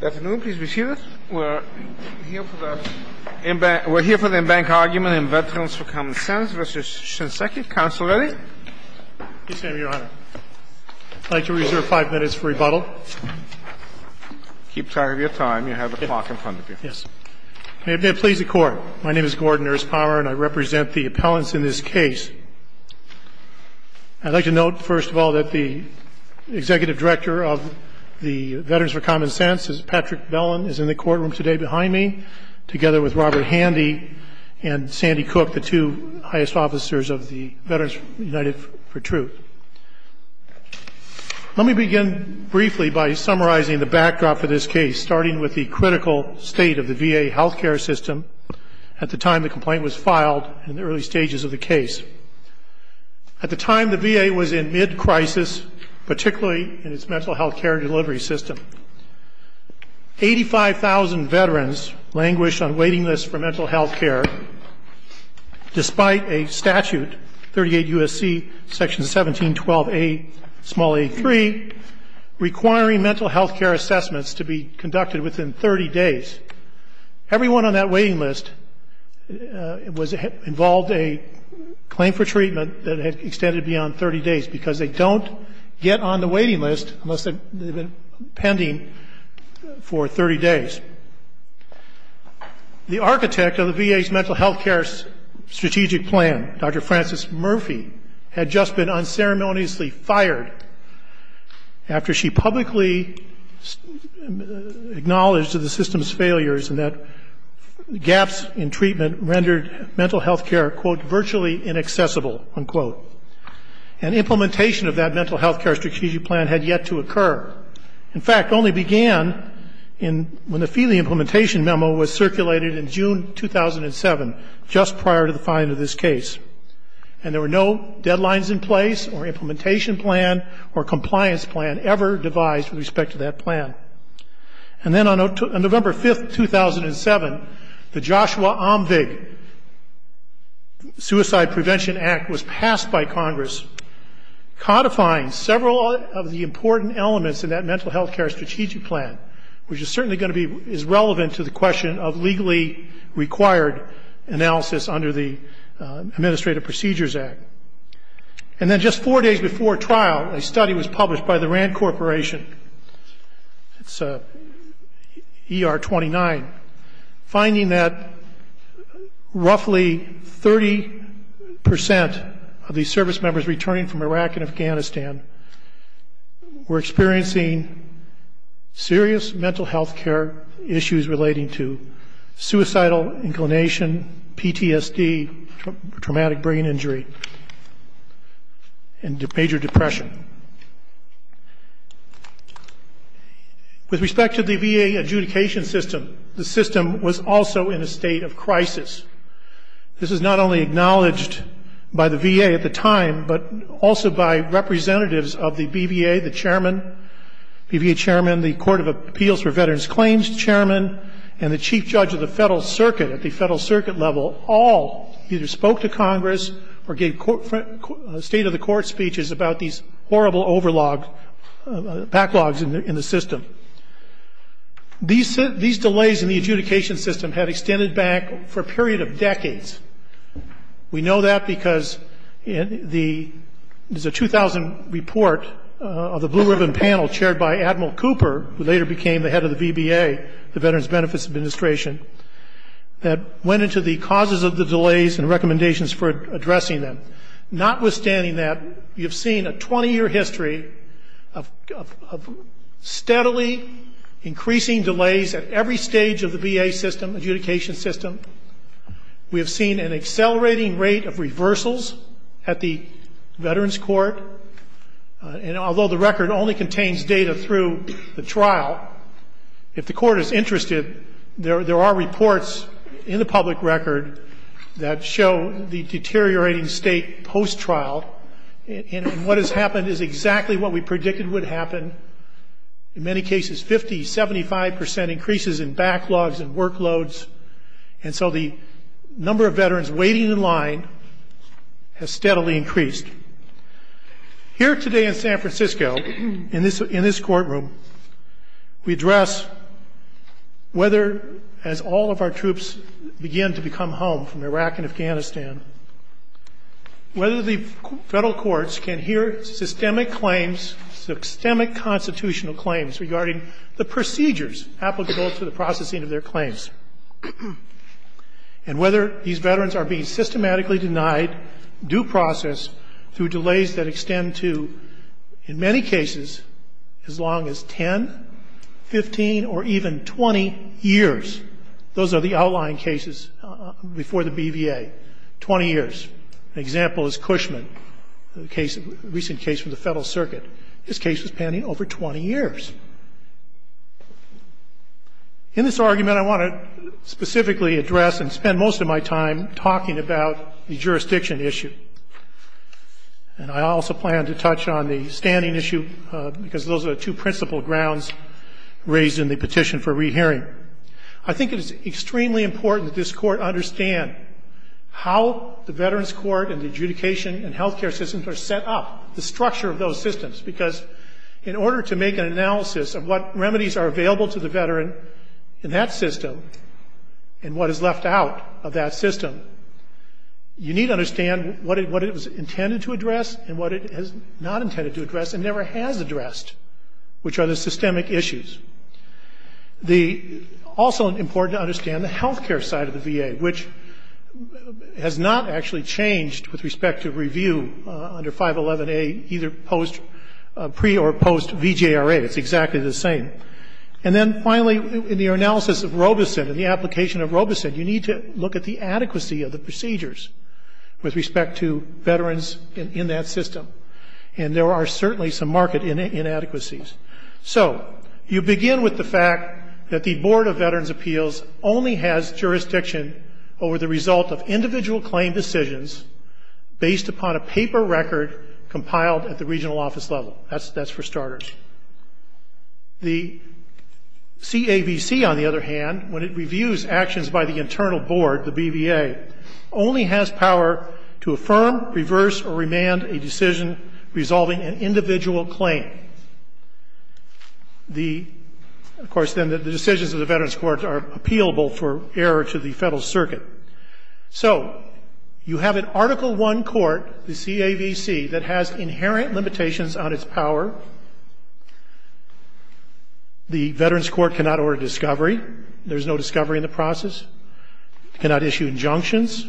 Good afternoon. Please be seated. We're here for the embankment argument in Veterans for Common Sense v. Shinseki. Counsel ready? Yes, Your Honor. I'd like to reserve five minutes for rebuttal. Keep track of your time. You have a clock in front of you. Yes. May it please the Court, my name is Gordon Erspower and I represent the appellants in this case. I'd like to note, first of all, that the Executive Director of the Veterans for Common Sense, Patrick Bellen, is in the courtroom today behind me, together with Robert Handy and Sandy Cook, the two highest officers of the Veterans United for Truth. Let me begin briefly by summarizing the backdrop for this case, starting with the critical state of the VA health care system at the time the complaint was filed and the early stages of the case. At the time, the VA was in mid-crisis, particularly in its mental health care delivery system. Eighty-five thousand veterans languished on waiting lists for mental health care, despite a statute, 38 U.S.C. Section 1712a, small a, 3, requiring mental health care assessments to be conducted within 30 days. Everyone on that waiting list involved a claim for treatment that had extended beyond 30 days, because they don't get on the waiting list unless they've been pending for 30 days. The architect of the VA's mental health care strategic plan, Dr. Frances Murphy, had just been unceremoniously fired after she publicly acknowledged to the system's failures that gaps in treatment rendered mental health care, quote, virtually inaccessible, unquote. And implementation of that mental health care strategic plan had yet to occur. In fact, it only began when the Feeley implementation memo was circulated in June 2007, just prior to the filing of this case. And there were no deadlines in place or implementation plan or compliance plan ever devised with respect to that plan. And then on November 5, 2007, the Joshua Omvig Suicide Prevention Act was passed by Congress, codifying several of the important elements in that mental health care strategic plan, which is certainly going to be as relevant to the question of legally required analysis under the Administrative Procedures Act. And then just four days before trial, a study was published by the RAND Corporation. It's ER29, finding that roughly 30 percent of these service members returning from Iraq and Afghanistan were experiencing serious mental health care issues relating to suicidal inclination, PTSD, traumatic brain injury, and major depression. With respect to the VA adjudication system, the system was also in a state of crisis. This is not only acknowledged by the VA at the time, but also by representatives of the BVA, the chairman, BVA chairman, the Court of Appeals for Veterans Claims chairman, and the chief judge of the Federal Circuit at the Federal Circuit level all either spoke to Congress or gave state-of-the-court speeches about these horrible backlogs in the system. These delays in the adjudication system had extended back for a period of decades. We know that because there's a 2000 report of the Blue Ribbon Panel chaired by Admiral Cooper, who later became the head of the VBA, the Veterans Benefits Administration, that went into the causes of the delays and recommendations for addressing them. Notwithstanding that, we have seen a 20-year history of steadily increasing delays at every stage of the VA system, adjudication system. We have seen an accelerating rate of reversals at the Veterans Court. And although the record only contains data through the trial, if the court is interested, there are reports in the public record that show the deteriorating state post-trial. And what has happened is exactly what we predicted would happen. In many cases, 50%, 75% increases in backlogs and workloads. And so the number of veterans waiting in line has steadily increased. Here today in San Francisco, in this courtroom, we address whether, as all of our troops begin to become home from Iraq and Afghanistan, whether the federal courts can hear systemic claims, systemic constitutional claims, regarding the procedures applicable to the processing of their claims, and whether these veterans are being systematically denied due process through delays that extend to, in many cases, as long as 10, 15, or even 20 years. Those are the outlying cases before the BVA, 20 years. An example is Cushman, a recent case from the Federal Circuit. His case was pending over 20 years. In this argument, I want to specifically address and spend most of my time talking about the jurisdiction issue. And I also plan to touch on the standing issue, because those are the two principal grounds raised in the petition for rehearing. I think it is extremely important that this Court understand how the Veterans Court and the adjudication and health care systems are set up, the structure of those systems. Because in order to make an analysis of what remedies are available to the veteran in that system and what is left out of that system, you need to understand what it was intended to address and what it is not intended to address and never has addressed, which are the systemic issues. Also important to understand the health care side of the VA, which has not actually changed with respect to review under 511A, either pre- or post-VJRA. It's exactly the same. And then finally, in your analysis of Robeson and the application of Robeson, you need to look at the adequacy of the procedures with respect to veterans in that system. And there are certainly some market inadequacies. So you begin with the fact that the Board of Veterans' Appeals only has jurisdiction over the result of individual claim decisions based upon a paper record compiled at the regional office level. That's for starters. The CAVC, on the other hand, when it reviews actions by the internal board, the BVA, only has power to affirm, reverse, or remand a decision resolving an individual claim. The, of course, then the decisions of the veterans' courts are appealable for error to the Federal Circuit. So you have an Article I court, the CAVC, that has inherent limitations on its power. The veterans' court cannot order discovery. There is no discovery in the process. Cannot issue injunctions.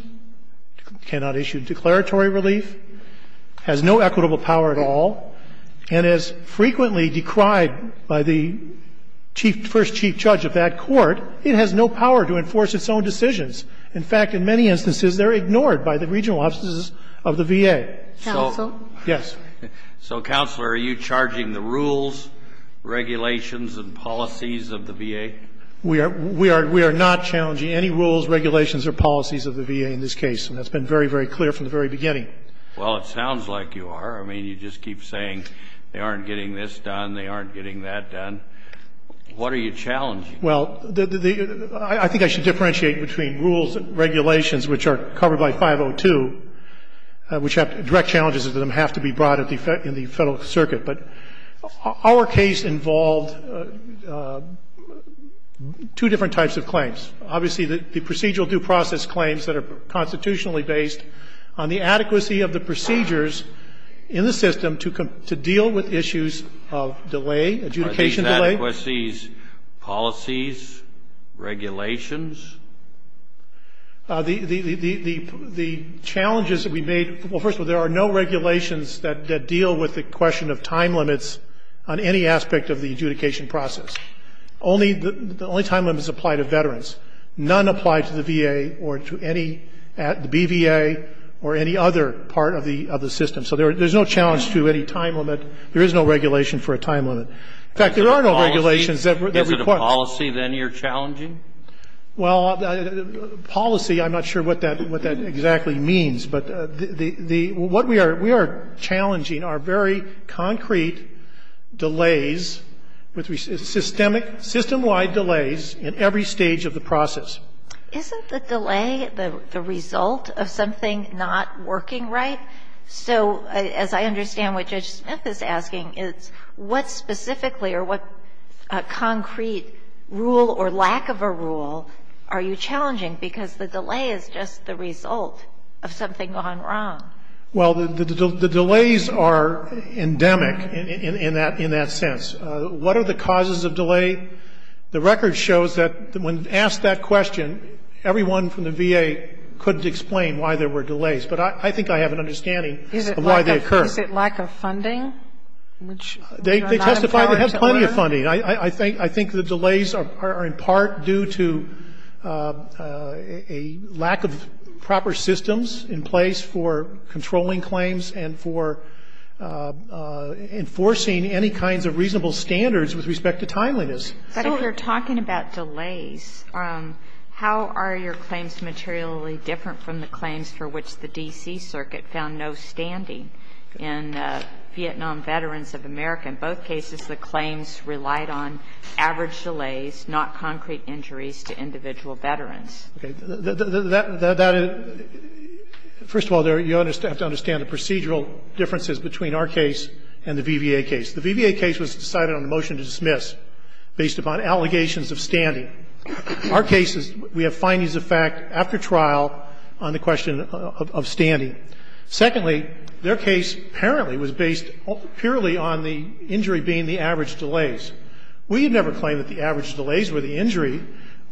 Cannot issue declaratory relief. Has no equitable power at all. And is frequently decried by the chief, first chief judge of that court. It has no power to enforce its own decisions. In fact, in many instances, they're ignored by the regional offices of the VA. Counsel? Yes. So, Counselor, are you charging the rules, regulations, and policies of the VA? We are not challenging any rules, regulations, or policies of the VA in this case. And that's been very, very clear from the very beginning. Well, it sounds like you are. I mean, you just keep saying they aren't getting this done, they aren't getting that done. What are you challenging? Well, I think I should differentiate between rules and regulations, which are covered by 502, which have direct challenges that have to be brought in the Federal Circuit. But our case involved two different types of claims. Obviously, the procedural due process claims that are constitutionally based on the adequacy of the procedures in the system to deal with issues of delay, adjudication delay. Are these adequacies, policies, regulations? The challenges that we made, well, first of all, there are no regulations that deal with the question of time limits on any aspect of the adjudication process. Only the only time limits apply to veterans. None apply to the VA or to any at the BVA or any other part of the system. So there's no challenge to any time limit. There is no regulation for a time limit. In fact, there are no regulations that would be a question. Is it a policy, then, you're challenging? Well, policy, I'm not sure what that exactly means. But the what we are we are challenging are very concrete delays with systemic system-wide delays in every stage of the process. Isn't the delay the result of something not working right? So as I understand what Judge Smith is asking, it's what specifically or what concrete rule or lack of a rule are you challenging, because the delay is just the result of something gone wrong. Well, the delays are endemic in that sense. What are the causes of delay? The record shows that when asked that question, everyone from the VA couldn't explain why there were delays. But I think I have an understanding of why they occur. They testify they have plenty of funding. I think the delays are in part due to a lack of proper systems in place for controlling claims and for enforcing any kinds of reasonable standards with respect to timeliness. But if you're talking about delays, how are your claims materially different from the claims for which the D.C. Circuit found no standing in Vietnam Veterans of America? In both cases, the claims relied on average delays, not concrete injuries to individual veterans. First of all, you have to understand the procedural differences between our case and the VBA case. The VBA case was decided on a motion to dismiss based upon allegations of standing. Our case is we have findings of fact after trial on the question of standing. Secondly, their case apparently was based purely on the injury being the average delays. We have never claimed that the average delays were the injury.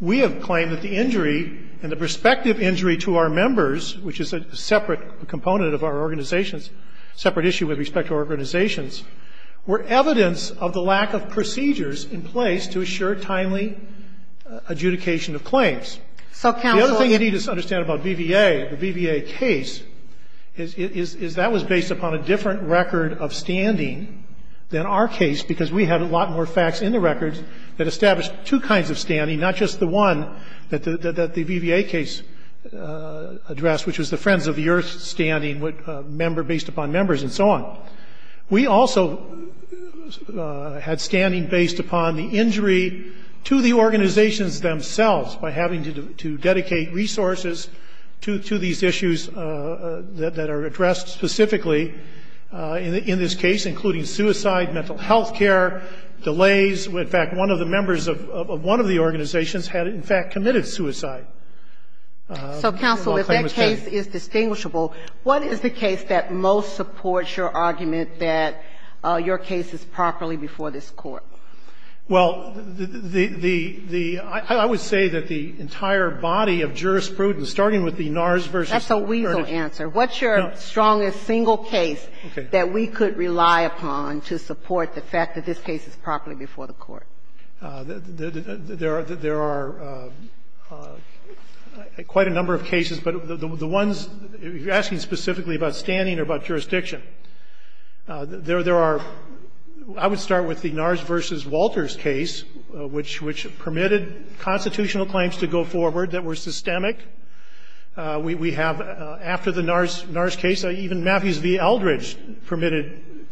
We have claimed that the injury and the prospective injury to our members, which is a separate component of our organizations, separate issue with respect to organizations, were evidence of the lack of procedures in place to assure timely adjudication of claims. The other thing you need to understand about VBA, the VBA case, is that was based upon a different record of standing than our case because we had a lot more facts in the records that established two kinds of standing, not just the one that the VBA case addressed, which was the Friends of the Earth standing based upon members and so on. We also had standing based upon the injury to the organizations themselves by having to dedicate resources to these issues that are addressed specifically in this case, including suicide, mental health care, delays. In fact, one of the members of one of the organizations had, in fact, committed suicide while claiming standing. So, counsel, if that case is distinguishable, what is the case that most supports your argument that your case is properly before this Court? Well, the – I would say that the entire body of jurisprudence, starting with the NARS v. Furnish. That's a weasel answer. No. What's your strongest single case that we could rely upon to support the fact that this case is properly before the Court? There are quite a number of cases, but the ones you're asking specifically about standing or about jurisdiction, there are – I would start with the NARS v. Walter's case, which permitted constitutional claims to go forward that were systemic. We have, after the NARS case, even Matthews v. Eldridge permitted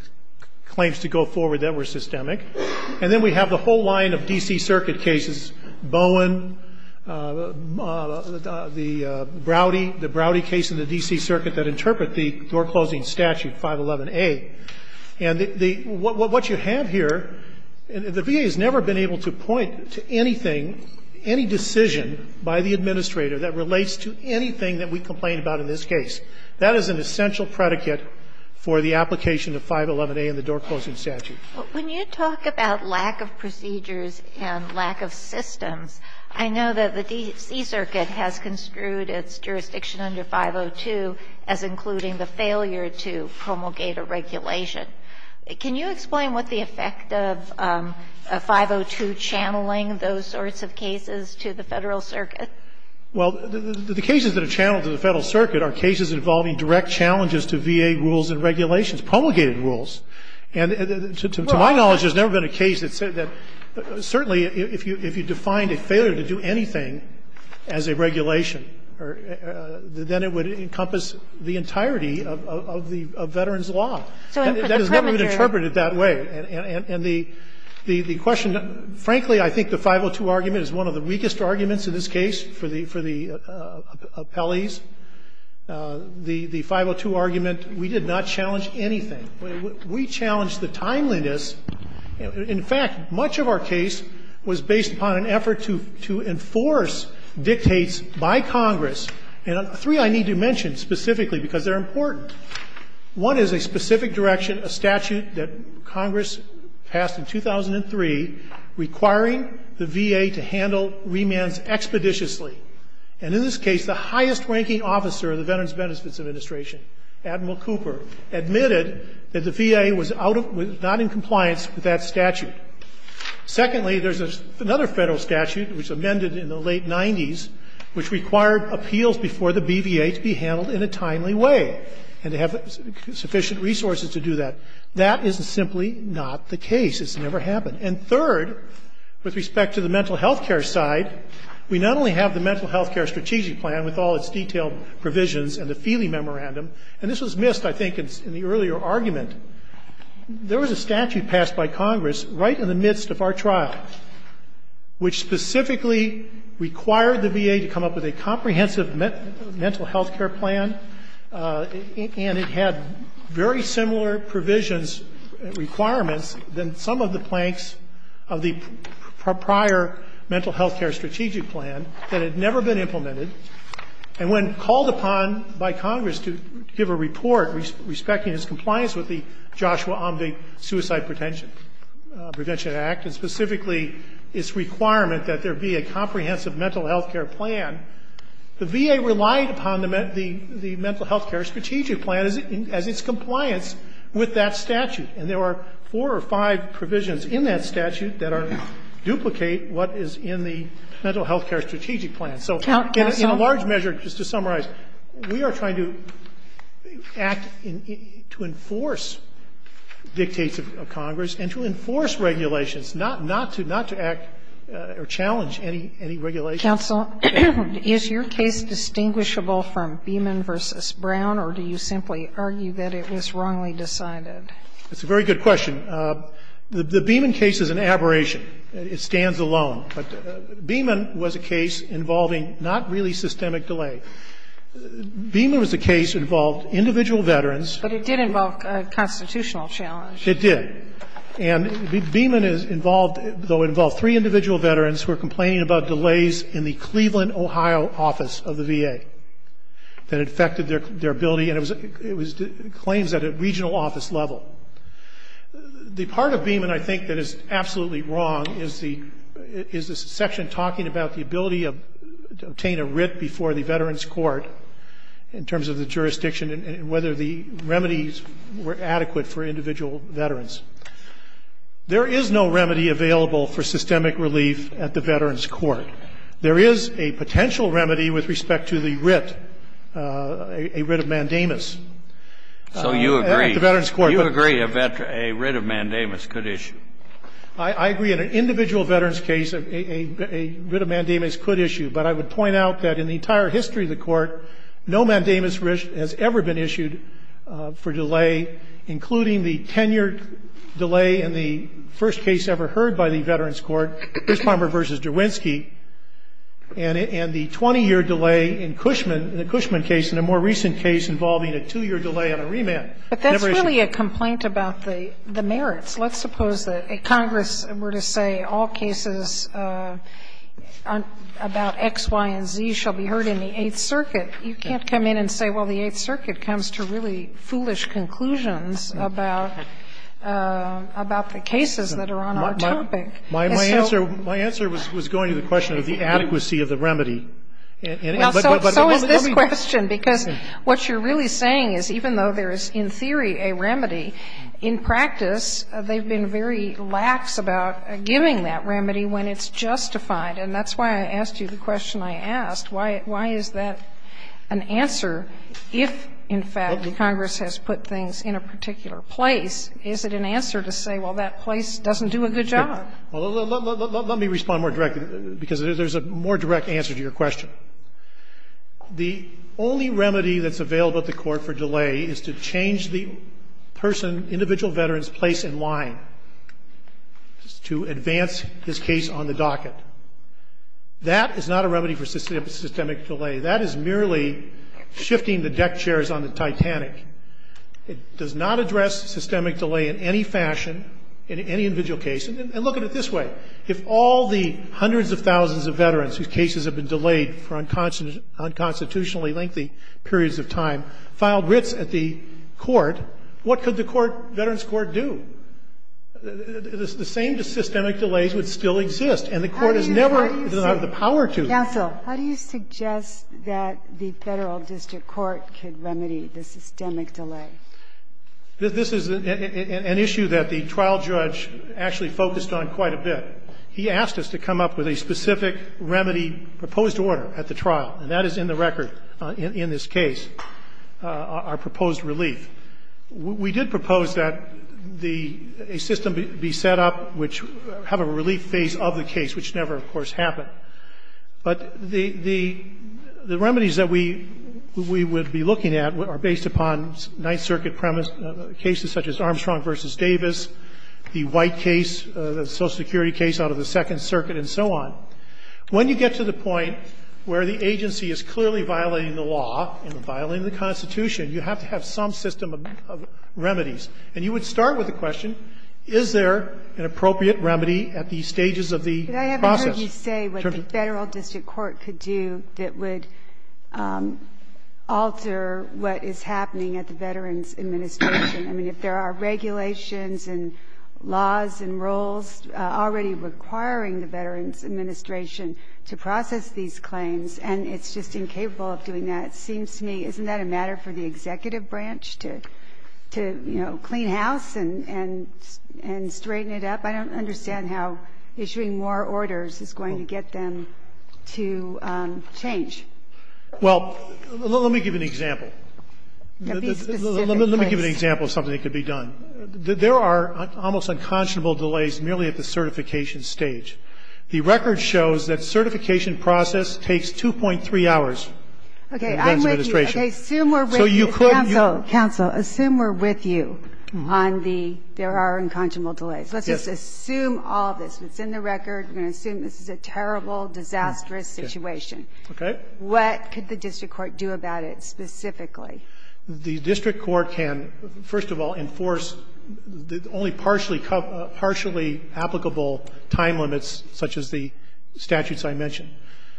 claims to go forward that were systemic. And then we have the whole line of D.C. Circuit cases, Bowen, the Browdy case in the D.C. Circuit that interpret the door-closing statute, 511A. And the – what you have here, the VA has never been able to point to anything, any decision by the administrator that relates to anything that we complain about in this case. That is an essential predicate for the application of 511A in the door-closing statute. But when you talk about lack of procedures and lack of systems, I know that the D.C. Circuit has construed its jurisdiction under 502 as including the failure to promulgate a regulation. Can you explain what the effect of 502 channeling those sorts of cases to the Federal Circuit? Well, the cases that are channeled to the Federal Circuit are cases involving direct challenges to VA rules and regulations, promulgated rules. And to my knowledge, there's never been a case that said that – certainly, if you defined a failure to do anything as a regulation, then it would encompass the entirety of the Veterans Law. And that has never been interpreted that way. And the question – frankly, I think the 502 argument is one of the weakest arguments in this case for the appellees. The 502 argument, we did not challenge anything. We challenged the timeliness. In fact, much of our case was based upon an effort to enforce dictates by Congress. And three I need to mention specifically because they're important. One is a specific direction, a statute that Congress passed in 2003 requiring the VA to handle remands expeditiously. And in this case, the highest-ranking officer of the Veterans Benefits Administration, Admiral Cooper, admitted that the VA was out of – was not in compliance with that statute. Secondly, there's another Federal statute, which amended in the late 90s, which required appeals before the BVA to be handled in a timely way and to have sufficient resources to do that. That is simply not the case. It's never happened. And third, with respect to the mental health care side, we not only have the Mental Health Care Strategy Plan with all its detailed provisions and the Feeley Memorandum – and this was missed, I think, in the earlier argument – there was a statute passed by Congress right in the midst of our trial, which specifically required the VA to come up with a comprehensive mental health care plan. And it had very similar provisions and requirements than some of the planks of the prior Mental Health Care Strategic Plan that had never been implemented. And when called upon by Congress to give a report respecting its compliance with the Joshua Omveik Suicide Prevention Act, and specifically its requirement that there be a comprehensive mental health care plan, the VA relied upon the Mental Health Care Strategic Plan as its compliance with that statute. And there were four or five provisions in that statute that duplicate what is in the Mental Health Care Strategic Plan. So in a large measure, just to summarize, we are trying to act to enforce dictates of Congress and to enforce regulations, not to act or challenge any regulation. Counsel, is your case distinguishable from Beeman v. Brown, or do you simply argue that it was wrongly decided? That's a very good question. The Beeman case is an aberration. It stands alone. But Beeman was a case involving not really systemic delay. Beeman was a case that involved individual veterans. But it did involve a constitutional challenge. It did. And Beeman involved three individual veterans who were complaining about delays in the Cleveland, Ohio, office of the VA that affected their ability. And it was claims at a regional office level. The part of Beeman I think that is absolutely wrong is the section talking about the ability to obtain a writ before the Veterans Court in terms of the jurisdiction and whether the remedies were adequate for individual veterans. There is no remedy available for systemic relief at the Veterans Court. There is a potential remedy with respect to the writ, a writ of mandamus. So you agree. At the Veterans Court. You agree a writ of mandamus could issue. I agree. In an individual veterans case, a writ of mandamus could issue. But I would point out that in the entire history of the Court, no mandamus has ever been issued for delay, including the ten-year delay in the first case ever heard by the Veterans Court, Griswamer v. Derwinski, and the 20-year delay in Cushman, the Cushman case, and a more recent case involving a two-year delay on a remand. But that's really a complaint about the merits. Let's suppose that Congress were to say all cases about X, Y, and Z shall be heard in the Eighth Circuit. You can't come in and say, well, the Eighth Circuit comes to really foolish conclusions about the cases that are on our topic. My answer was going to the question of the adequacy of the remedy. Well, so is this question, because what you're really saying is even though there is, in theory, a remedy, in practice, they've been very lax about giving that remedy when it's justified. And that's why I asked you the question I asked. Why is that an answer if, in fact, Congress has put things in a particular place? Is it an answer to say, well, that place doesn't do a good job? Let me respond more directly, because there's a more direct answer to your question. The only remedy that's available at the court for delay is to change the person, individual veteran's place in line to advance his case on the docket. That is not a remedy for systemic delay. That is merely shifting the deck chairs on the Titanic. It does not address systemic delay in any fashion in any individual case. And look at it this way. If all the hundreds of thousands of veterans whose cases have been delayed for unconstitutionally lengthy periods of time filed writs at the court, what could the court, Veterans Court, do? The same systemic delays would still exist, and the court has never been able to have the power to. How do you suggest that the Federal District Court could remedy the systemic delay? This is an issue that the trial judge actually focused on quite a bit. He asked us to come up with a specific remedy proposed order at the trial, and that is in the record in this case, our proposed relief. We did propose that a system be set up which have a relief phase of the case, which never, of course, happened. But the remedies that we would be looking at are based upon Ninth Circuit cases such as Armstrong v. Davis, the White case, the Social Security case out of the Second Circuit, and so on. When you get to the point where the agency is clearly violating the law and violating the Constitution, you have to have some system of remedies. And you would start with the question, is there an appropriate remedy at the stages of the process? Let me say what the Federal District Court could do that would alter what is happening at the Veterans Administration. I mean, if there are regulations and laws and rules already requiring the Veterans Administration to process these claims, and it's just incapable of doing that, it seems to me, isn't that a matter for the executive branch to, you know, clean house and straighten it up? I don't understand how issuing more orders is going to get them to change. Well, let me give an example. Let me give an example of something that could be done. There are almost unconscionable delays merely at the certification stage. The record shows that certification process takes 2.3 hours for the Veterans Administration. Okay. I'm with you. Okay. Assume we're with you. Counsel, counsel, assume we're with you on the there are unconscionable delays. Let's just assume all of this. It's in the record. We're going to assume this is a terrible, disastrous situation. Okay. What could the district court do about it specifically? The district court can, first of all, enforce the only partially applicable time limits such as the statutes I mentioned.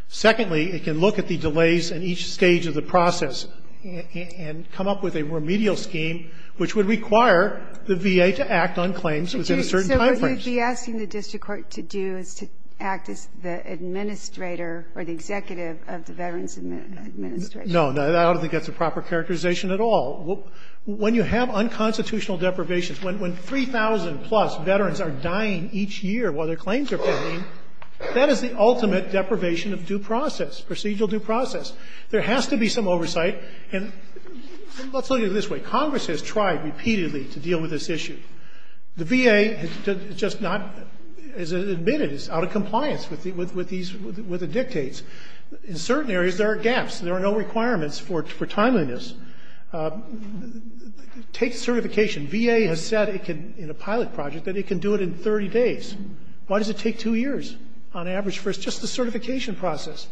Secondly, it can look at the delays in each stage of the process and come up with a remedial scheme which would require the VA to act on claims within a certain time frame. So would you be asking the district court to do is to act as the administrator or the executive of the Veterans Administration? No. I don't think that's a proper characterization at all. When you have unconstitutional deprivations, when 3,000-plus veterans are dying each year while their claims are pending, that is the ultimate deprivation of due process, procedural due process. There has to be some oversight. And let's look at it this way. Congress has tried repeatedly to deal with this issue. The VA has just not, as it admitted, is out of compliance with these, with the dictates. In certain areas, there are gaps. There are no requirements for timeliness. Take certification. VA has said it can, in a pilot project, that it can do it in 30 days. Why does it take two years on average for just the certification process?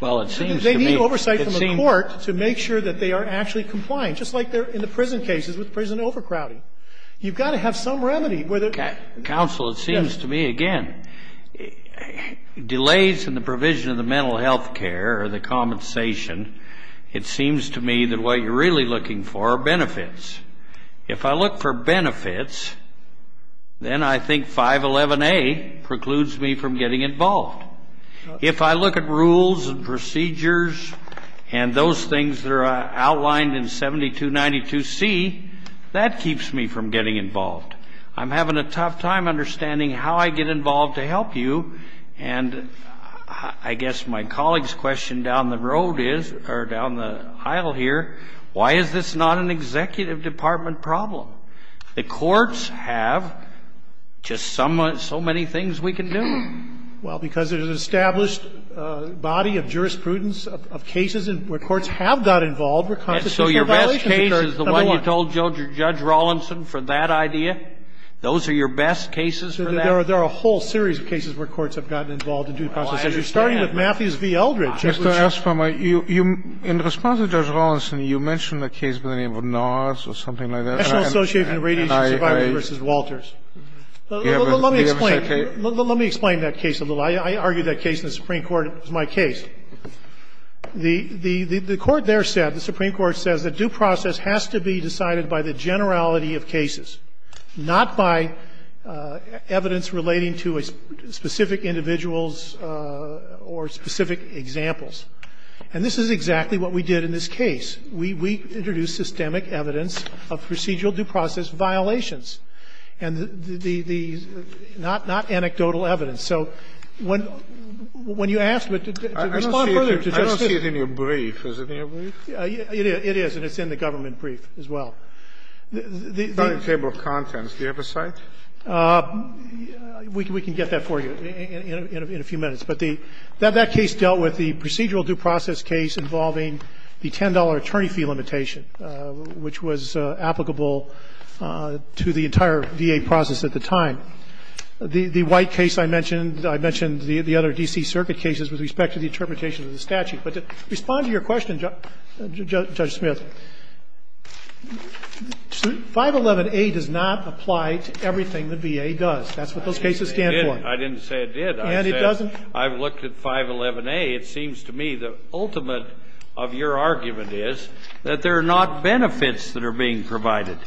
Well, it seems to me it seems to me. Because they need oversight from the court to make sure that they are actually compliant, just like they're in the prison cases with prison overcrowding. You've got to have some remedy where the ---- Counsel, it seems to me, again, delays in the provision of the mental health care or the compensation, it seems to me that what you're really looking for are benefits. If I look for benefits, then I think 511A precludes me from getting involved. If I look at rules and procedures and those things that are outlined in 7292C, that keeps me from getting involved. I'm having a tough time understanding how I get involved to help you. And I guess my colleague's question down the road is, or down the aisle here, why is this not an executive department problem? The courts have just so many things we can do. Well, because there's an established body of jurisprudence of cases where courts have got involved where compensation violations occur. So your best case is the one you told Judge Rawlinson for that idea? Those are your best cases for that? There are a whole series of cases where courts have gotten involved in due process issues, starting with Matthews v. Eldredge. Mr. Elstrom, in response to Judge Rawlinson, you mentioned a case by the name of Norris or something like that. National Association of Radiation Survivors v. Walters. Let me explain that case a little. I argued that case in the Supreme Court. It was my case. The court there said, the Supreme Court says that due process has to be decided by the generality of cases, not by evidence relating to a specific individual's or specific examples. And this is exactly what we did in this case. We introduced systemic evidence of procedural due process violations. And the not anecdotal evidence. So when you asked, but to respond further to Justice Sotomayor. I don't see it in your brief. Is it in your brief? It is. And it's in the government brief as well. Starting table of contents, do you have a cite? We can get that for you in a few minutes. But that case dealt with the procedural due process case involving the $10 attorney fee limitation, which was applicable to the entire VA process at the time. The white case I mentioned, I mentioned the other D.C. circuit cases with respect to the interpretation of the statute. But to respond to your question, Judge Smith, 511A does not apply to everything the VA does. That's what those cases stand for. I didn't say it did. And it doesn't? I've looked at 511A. It seems to me the ultimate of your argument is that there are not benefits that are being provided.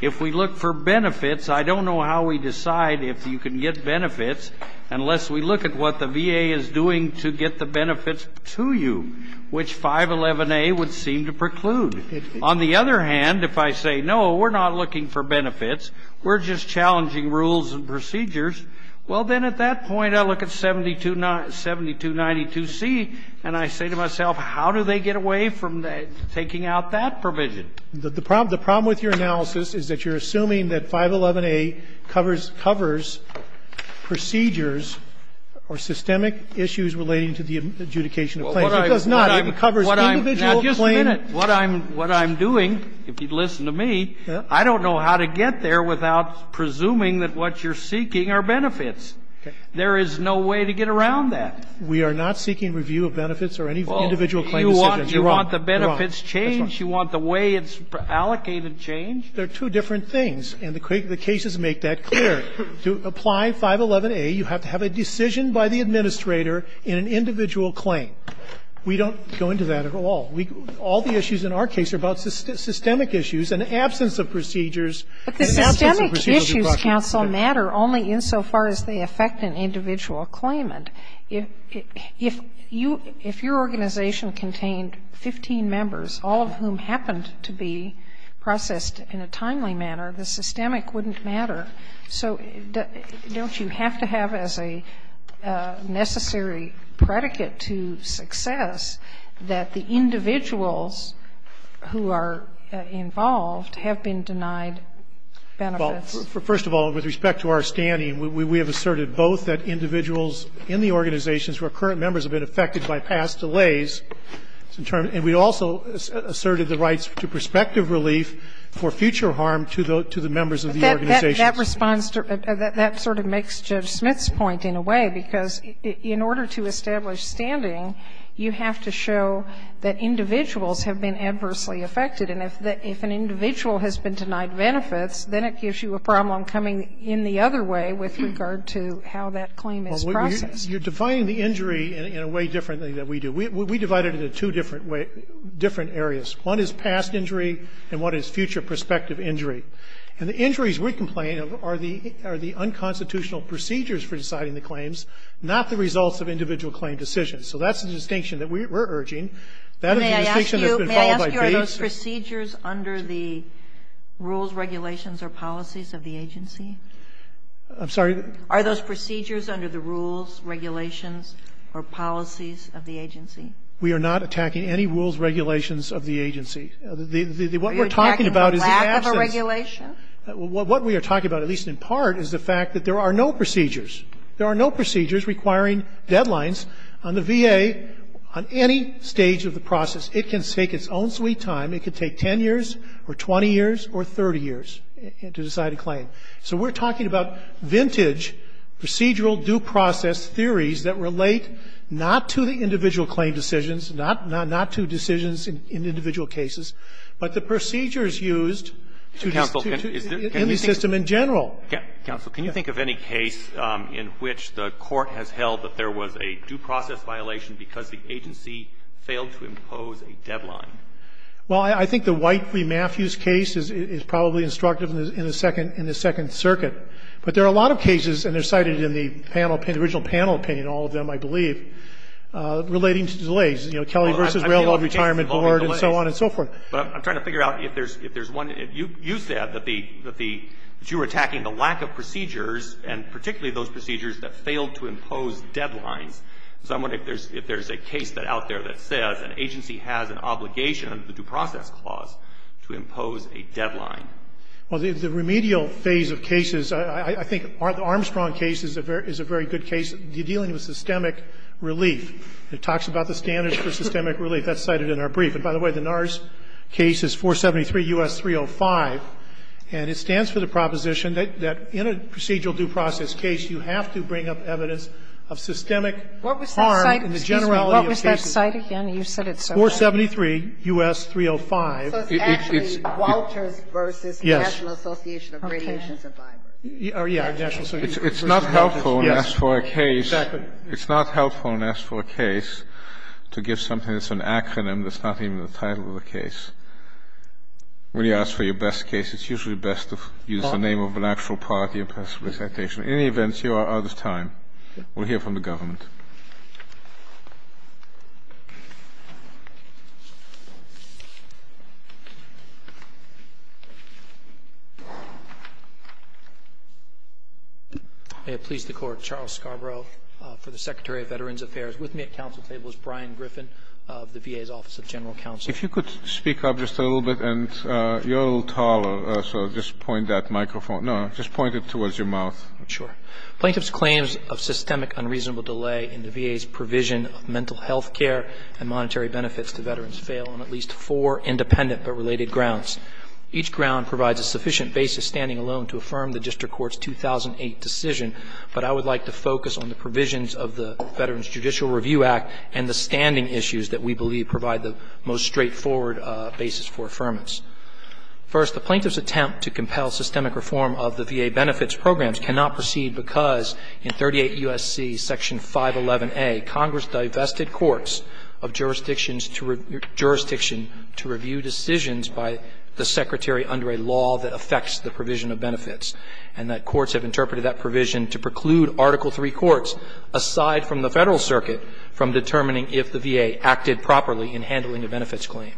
If we look for benefits, I don't know how we decide if you can get benefits unless we look at what the VA is doing to get the benefits to you, which 511A would seem to preclude. On the other hand, if I say, no, we're not looking for benefits, we're just challenging rules and procedures, well, then at that point I look at 7292C and I say to myself, how do they get away from taking out that provision? The problem with your analysis is that you're assuming that 511A covers procedures or systemic issues relating to the adjudication of claims. It does not. It covers individual claims. Now, just a minute. What I'm doing, if you'd listen to me, I don't know how to get there without presuming that what you're seeking are benefits. There is no way to get around that. We are not seeking review of benefits or any individual claim decisions. You're wrong. You're wrong. You want the benefits changed? You want the way it's allocated changed? They're two different things, and the cases make that clear. To apply 511A, you have to have a decision by the administrator in an individual claim. We don't go into that at all. All the issues in our case are about systemic issues and absence of procedures and absence of procedures. But the systemic issues, counsel, matter only insofar as they affect an individual claimant. If your organization contained 15 members, all of whom happened to be processed in a timely manner, the systemic wouldn't matter. So don't you have to have as a necessary predicate to success that the individuals who are involved have been denied benefits? Well, first of all, with respect to our standing, we have asserted both that individuals in the organizations who are current members have been affected by past delays, and we also asserted the rights to prospective relief for future harm to the members of the organizations. That responds to the ---- that sort of makes Judge Smith's point in a way, because in order to establish standing, you have to show that individuals have been adversely affected. And if an individual has been denied benefits, then it gives you a problem coming in the other way with regard to how that claim is processed. Well, you're defining the injury in a way differently than we do. We divide it into two different areas. One is past injury, and one is future prospective injury. And the injuries we complain of are the unconstitutional procedures for deciding the claims, not the results of individual claim decisions. So that's the distinction that we're urging. That is the distinction that's been followed by Bates. May I ask you, are those procedures under the rules, regulations, or policies of the agency? I'm sorry? Are those procedures under the rules, regulations, or policies of the agency? We are not attacking any rules, regulations of the agency. What we're talking about is the absence. Are you attacking the lack of a regulation? What we are talking about, at least in part, is the fact that there are no procedures. There are no procedures requiring deadlines on the VA on any stage of the process. It can take its own sweet time. It can take 10 years or 20 years or 30 years to decide a claim. So we're talking about vintage procedural due process theories that relate not to the individual claim decisions, not to decisions in individual cases, but the procedures used to institute any system in general. Counsel, can you think of any case in which the Court has held that there was a due process violation because the agency failed to impose a deadline? Well, I think the White v. Matthews case is probably instructive in the Second Circuit. But there are a lot of cases, and they're cited in the panel, the original panel opinion, all of them, I believe, relating to delays. You know, Kelly v. Railroad Retirement Board and so on and so forth. But I'm trying to figure out if there's one. You said that the you were attacking the lack of procedures and particularly those procedures that failed to impose deadlines. So I'm wondering if there's a case out there that says an agency has an obligation under the Due Process Clause to impose a deadline. Well, the remedial phase of cases, I think the Armstrong case is a very good case dealing with systemic relief. It talks about the standards for systemic relief. That's cited in our brief. And by the way, the NARS case is 473 U.S. 305, and it stands for the proposition that in a procedural due process case, you have to bring up evidence of systemic harm in the generality of cases. What was that cite again? You said it so well. 473 U.S. 305. So it's actually Walters v. National Association of Radiation Survivors. Yes. It's not helpful when asked for a case. Exactly. It's not helpful when asked for a case to give something that's an acronym that's not even the title of the case. When you ask for your best case, it's usually best to use the name of an actual party and pass a presentation. In any event, you are out of time. We'll hear from the government. May it please the Court. Charles Scarborough for the Secretary of Veterans Affairs. With me at council table is Brian Griffin of the VA's Office of General Counsel. If you could speak up just a little bit. And you're a little taller, so just point that microphone. No, just point it towards your mouth. Sure. Plaintiff's claims of systemic unreasonable delay in the VA's provision of mental health care and monetary benefits to veterans fail on at least four independent but related grounds. Each ground provides a sufficient basis standing alone to affirm the district court's 2008 decision, but I would like to focus on the provisions of the Veterans Judicial Review Act and the standing issues that we believe provide the most straightforward basis for affirmance. First, the plaintiff's attempt to compel systemic reform of the VA benefits programs cannot proceed because in 38 U.S.C. Section 511A, Congress divested courts of jurisdictions to review decisions by the Secretary under a law that affects the provision of benefits, and that courts have interpreted that provision to preclude Article III courts, aside from the Federal Circuit, from determining if the VA acted properly in handling a benefits claim.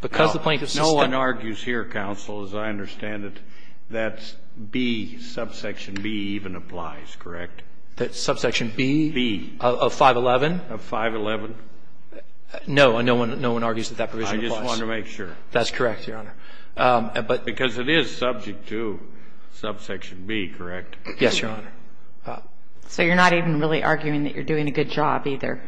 Because the plaintiff's system No one argues here, counsel, as I understand it, that B, subsection B even applies, correct? That subsection B? B. Of 511? Of 511. No, no one argues that that provision applies. I just wanted to make sure. That's correct, Your Honor. But Because it is subject to subsection B, correct? Yes, Your Honor. So you're not even really arguing that you're doing a good job, either?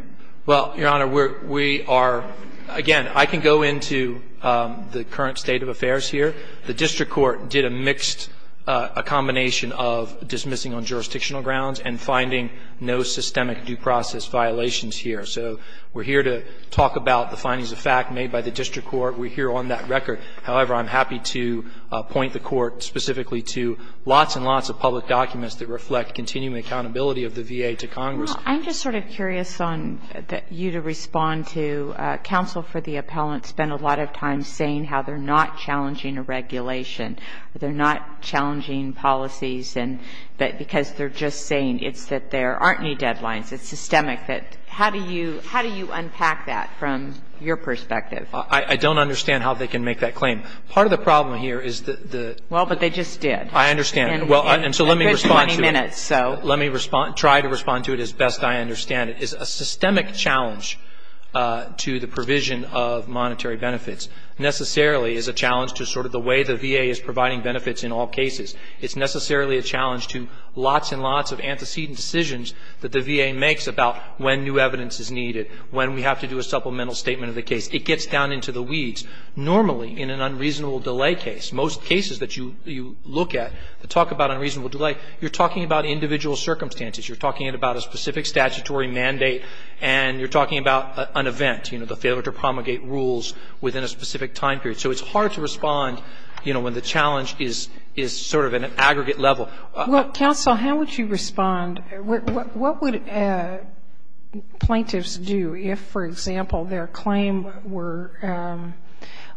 Well, Your Honor, we are – again, I can go into the current state of affairs here. The district court did a mixed – a combination of dismissing on jurisdictional grounds and finding no systemic due process violations here. So we're here to talk about the findings of fact made by the district court. We're here on that record. However, I'm happy to point the court specifically to lots and lots of public documents that reflect continuing accountability of the VA to Congress. Well, I'm just sort of curious on you to respond to counsel for the appellant spent a lot of time saying how they're not challenging a regulation, they're not challenging policies, and that because they're just saying it's that there aren't any deadlines, it's systemic. How do you unpack that from your perspective? I don't understand how they can make that claim. Part of the problem here is that the – Well, but they just did. I understand. Well, and so let me respond to it. It's 20 minutes, so. Let me try to respond to it as best I understand it. It's a systemic challenge to the provision of monetary benefits. Necessarily, it's a challenge to sort of the way the VA is providing benefits in all cases. It's necessarily a challenge to lots and lots of antecedent decisions that the VA makes about when new evidence is needed, when we have to do a supplemental statement of the case. It gets down into the weeds. Normally, in an unreasonable delay case, most cases that you look at, they talk about unreasonable delay. You're talking about individual circumstances. You're talking about a specific statutory mandate, and you're talking about an event, you know, the failure to promulgate rules within a specific time period. So it's hard to respond, you know, when the challenge is sort of at an aggregate level. Well, counsel, how would you respond? What would plaintiffs do if, for example, their claim were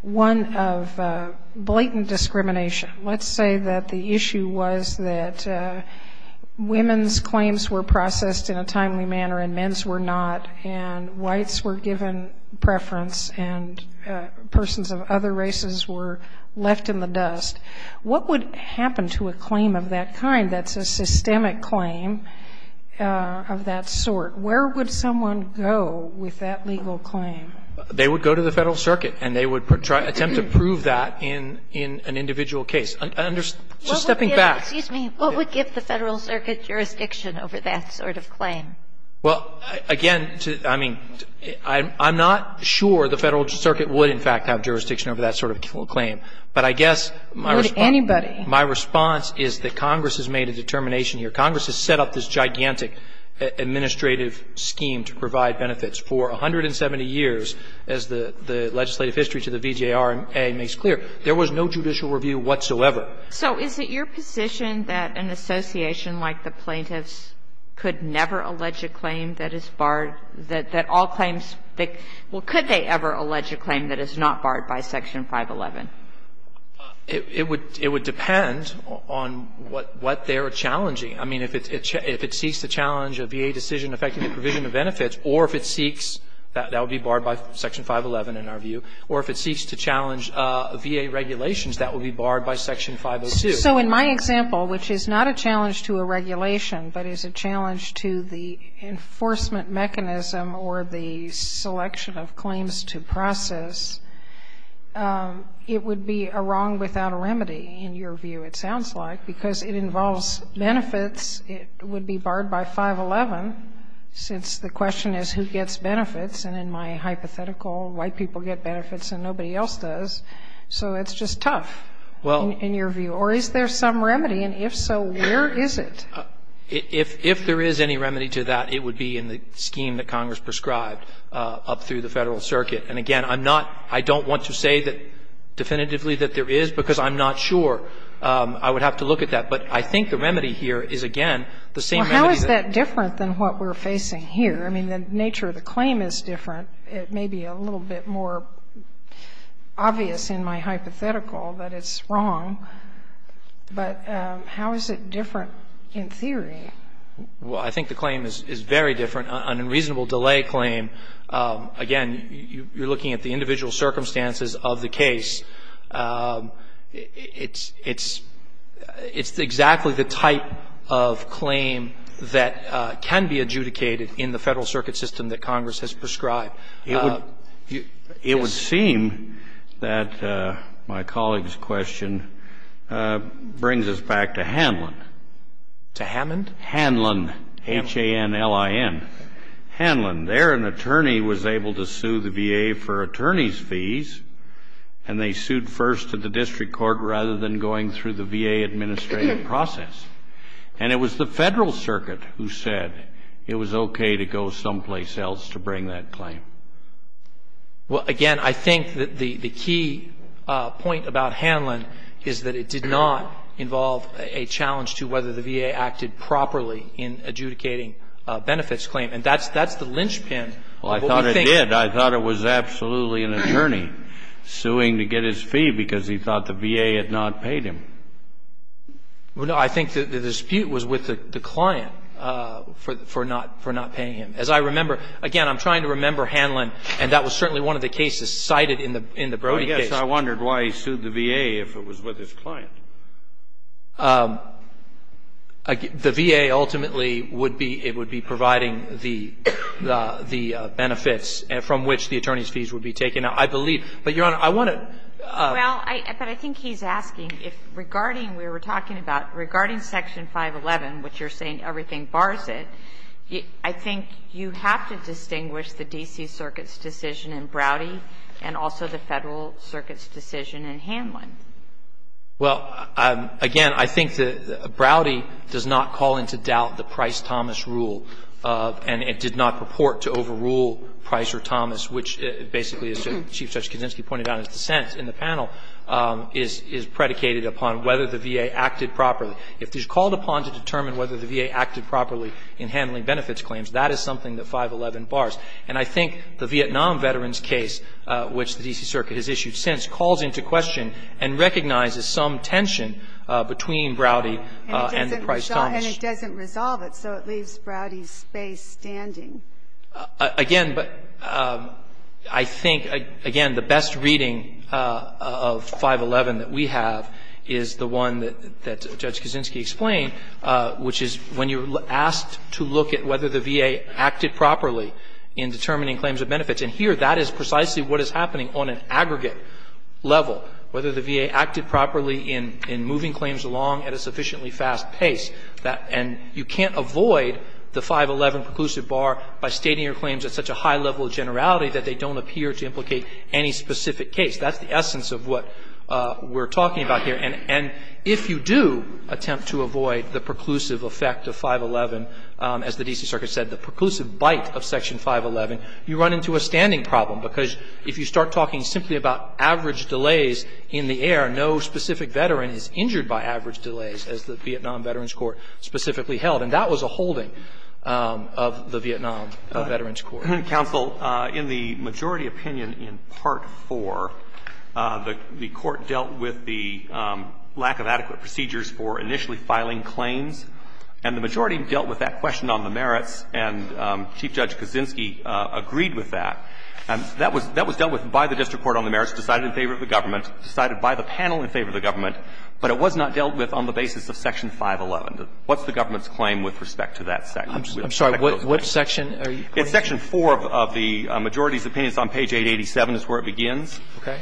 one of blatant discrimination? Let's say that the issue was that women's claims were processed in a timely manner and men's were not, and whites were given preference and persons of other races were left in the dust. What would happen to a claim of that kind that's a systemic claim of that sort? Where would someone go with that legal claim? They would go to the Federal Circuit, and they would attempt to prove that in an individual case. So stepping back. Excuse me. What would give the Federal Circuit jurisdiction over that sort of claim? Well, again, I mean, I'm not sure the Federal Circuit would, in fact, have jurisdiction over that sort of claim. But I guess my response. Would anybody? My response is that Congress has made a determination here. Congress has set up this gigantic administrative scheme to provide benefits. For 170 years, as the legislative history to the VJRA makes clear, there was no judicial review whatsoever. So is it your position that an association like the plaintiffs could never allege a claim that is barred, that all claims that – well, could they ever allege a claim that is not barred by Section 511? It would depend on what they are challenging. I mean, if it seeks to challenge a VA decision affecting the provision of benefits or if it seeks – that would be barred by Section 511 in our view – or if it seeks to challenge VA regulations, that would be barred by Section 502. So in my example, which is not a challenge to a regulation, but is a challenge to the enforcement mechanism or the selection of claims to process, it would be a wrong without a remedy, in your view it sounds like, because it involves benefits. It would be barred by 511, since the question is who gets benefits. And in my hypothetical, white people get benefits and nobody else does. So it's just tough, in your view. Or is there some remedy? And if so, where is it? If there is any remedy to that, it would be in the scheme that Congress prescribed up through the Federal Circuit. And again, I'm not – I don't want to say definitively that there is, because I'm not sure. I would have to look at that. But I think the remedy here is, again, the same remedy that – Well, how is that different than what we're facing here? I mean, the nature of the claim is different. It may be a little bit more obvious in my hypothetical that it's wrong. But how is it different in theory? Well, I think the claim is very different. An unreasonable delay claim, again, you're looking at the individual circumstances of the case. It's exactly the type of claim that can be adjudicated in the Federal Circuit system that Congress has prescribed. It would seem that my colleague's question brings us back to Hanlon. To Hammond? Hanlon, H-A-N-L-I-N. Hanlon. There, an attorney was able to sue the VA for attorney's fees, and they sued first to the district court rather than going through the VA administrative process. And it was the Federal Circuit who said it was okay to go someplace else to bring that claim. Well, again, I think that the key point about Hanlon is that it did not involve a challenge to whether the VA acted properly in adjudicating a benefits claim. And that's the linchpin of what we think. Well, I thought it did. I thought it was absolutely an attorney suing to get his fee because he thought the VA had not paid him. Well, no, I think the dispute was with the client for not paying him. As I remember, again, I'm trying to remember Hanlon, and that was certainly one of the cases cited in the Brody case. Well, I guess I wondered why he sued the VA if it was with his client. The VA ultimately would be providing the benefits from which the attorney's fees would be taken out, I believe. But, Your Honor, I want to ---- Well, but I think he's asking if regarding, we were talking about, regarding Section 511, which you're saying everything bars it, I think you have to distinguish the D.C. Circuit's decision in Brody and also the Federal Circuit's decision in Hanlon. Well, again, I think that Brody does not call into doubt the Price-Thomas rule, and it did not purport to overrule Price or Thomas, which basically, as Chief Justice Kuczynski pointed out in his dissent in the panel, is predicated upon whether the VA acted properly. If it's called upon to determine whether the VA acted properly in handling benefits claims, that is something that 511 bars. And I think the Vietnam Veterans case, which the D.C. Circuit has issued since, calls into question and recognizes some tension between Brody and the Price-Thomas. And it doesn't resolve it, so it leaves Brody's space standing. Again, but I think, again, the best reading of 511 that we have is the one that Judge Kuczynski explained, which is when you're asked to look at whether the VA acted properly in determining claims of benefits. And here, that is precisely what is happening on an aggregate level, whether the VA acted properly in moving claims along at a sufficiently fast pace. And you can't avoid the 511 preclusive bar by stating your claims at such a high level of generality that they don't appear to implicate any specific case. That's the essence of what we're talking about here. And if you do attempt to avoid the preclusive effect of 511, as the D.C. Circuit said, the preclusive bite of Section 511, you run into a standing problem, because if you start talking simply about average delays in the air, no specific veteran is injured by average delays, as the Vietnam Veterans Court specifically held. And that was a holding of the Vietnam Veterans Court. Roberts. Counsel, in the majority opinion in Part IV, the Court dealt with the lack of adequate procedures for initially filing claims. And the majority dealt with that question on the merits, and Chief Judge Kaczynski agreed with that. That was dealt with by the district court on the merits, decided in favor of the government, decided by the panel in favor of the government. But it was not dealt with on the basis of Section 511. What's the government's claim with respect to that section? I'm sorry. What section are you talking about? It's Section 4 of the majority's opinions on page 887 is where it begins. Okay.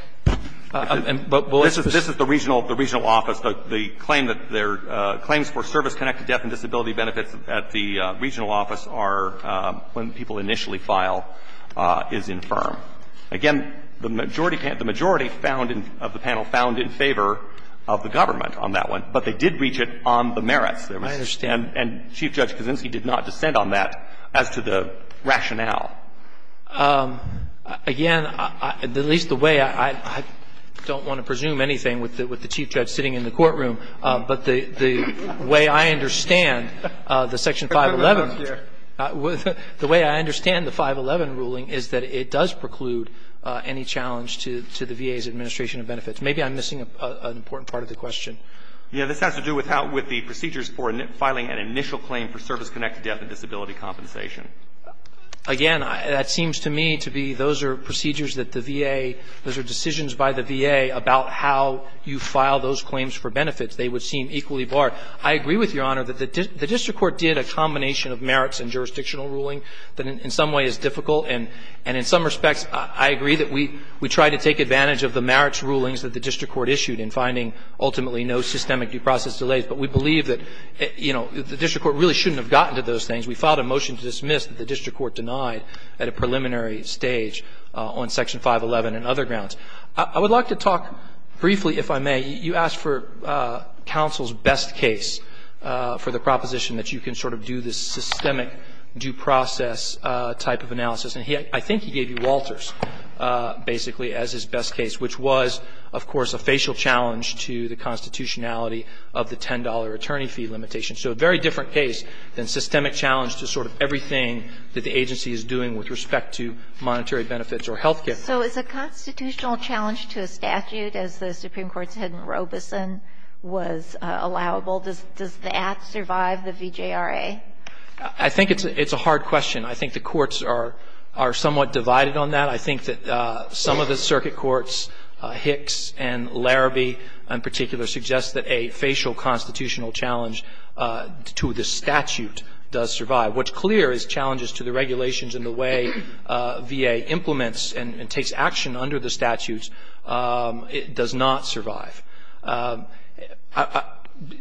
This is the regional office. The claim that their claims for service-connected death and disability benefits at the regional office are when people initially file is infirm. Again, the majority of the panel found in favor of the government on that one, but they did reach it on the merits. I understand. And Chief Judge Kaczynski did not dissent on that as to the rationale. Again, at least the way I don't want to presume anything with the Chief Judge sitting in the courtroom, but the way I understand the Section 511, the way I understand the 511 ruling is that it does preclude any challenge to the VA's administration of benefits. Maybe I'm missing an important part of the question. Yes. This has to do with the procedures for filing an initial claim for service-connected death and disability compensation. Again, that seems to me to be those are procedures that the VA, those are decisions by the VA about how you file those claims for benefits. They would seem equally barred. I agree with Your Honor that the district court did a combination of merits and jurisdictional ruling that in some way is difficult, and in some respects I agree that we try to take advantage of the merits rulings that the district court issued in finding ultimately no systemic due process delays. But we believe that, you know, the district court really shouldn't have gotten to those things. We filed a motion to dismiss that the district court denied at a preliminary stage on Section 511 and other grounds. I would like to talk briefly, if I may. You asked for counsel's best case for the proposition that you can sort of do this systemic due process type of analysis, and I think he gave you Walter's basically as his best case, which was, of course, a facial challenge to the constitutionality of the $10 attorney fee limitation. So a very different case than systemic challenge to sort of everything that the agency is doing with respect to monetary benefits or health care. So is a constitutional challenge to a statute, as the Supreme Court said in Robeson, was allowable? Does that survive the VJRA? I think it's a hard question. I think the courts are somewhat divided on that. I think that some of the circuit courts, Hicks and Larrabee in particular, suggest that a facial constitutional challenge to the statute does survive. What's clear is challenges to the regulations and the way VA implements and takes action under the statutes does not survive.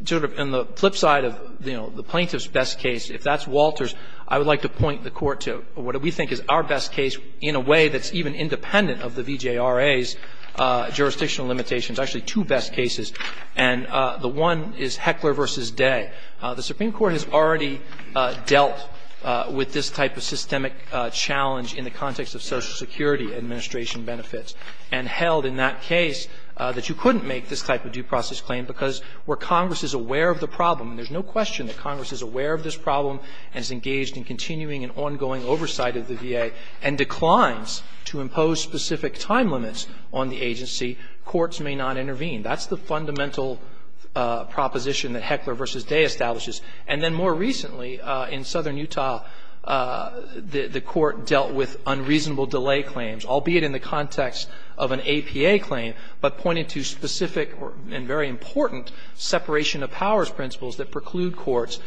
Sort of on the flip side of, you know, the plaintiff's best case, if that's Walter's, I would like to point the Court to what we think is our best case in a way that's even independent of the VJRA's jurisdictional limitations. Actually, two best cases. And the one is Heckler v. Day. The Supreme Court has already dealt with this type of systemic challenge in the context of Social Security administration benefits and held in that case that you couldn't make this type of due process claim because where Congress is aware of the problem and there's no question that Congress is aware of this problem and is engaged in continuing an ongoing oversight of the VA and declines to impose specific time limits on the agency, courts may not intervene. That's the fundamental proposition that Heckler v. Day establishes. And then more recently in southern Utah, the Court dealt with unreasonable delay claims, albeit in the context of an APA claim, but pointed to specific and very important separation of powers principles that preclude courts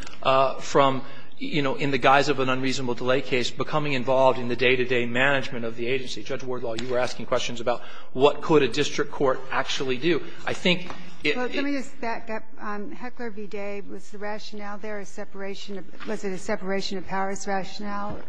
from, you know, in the guise of an unreasonable delay case, becoming involved in the day-to-day management of the agency. Judge Wardlaw, you were asking questions about what could a district court actually do. I think it's the same. Ginsburg. Well, let me just back up. Heckler v. Day, was the rationale there a separation of – was it a separation of powers rationale? Verrilli,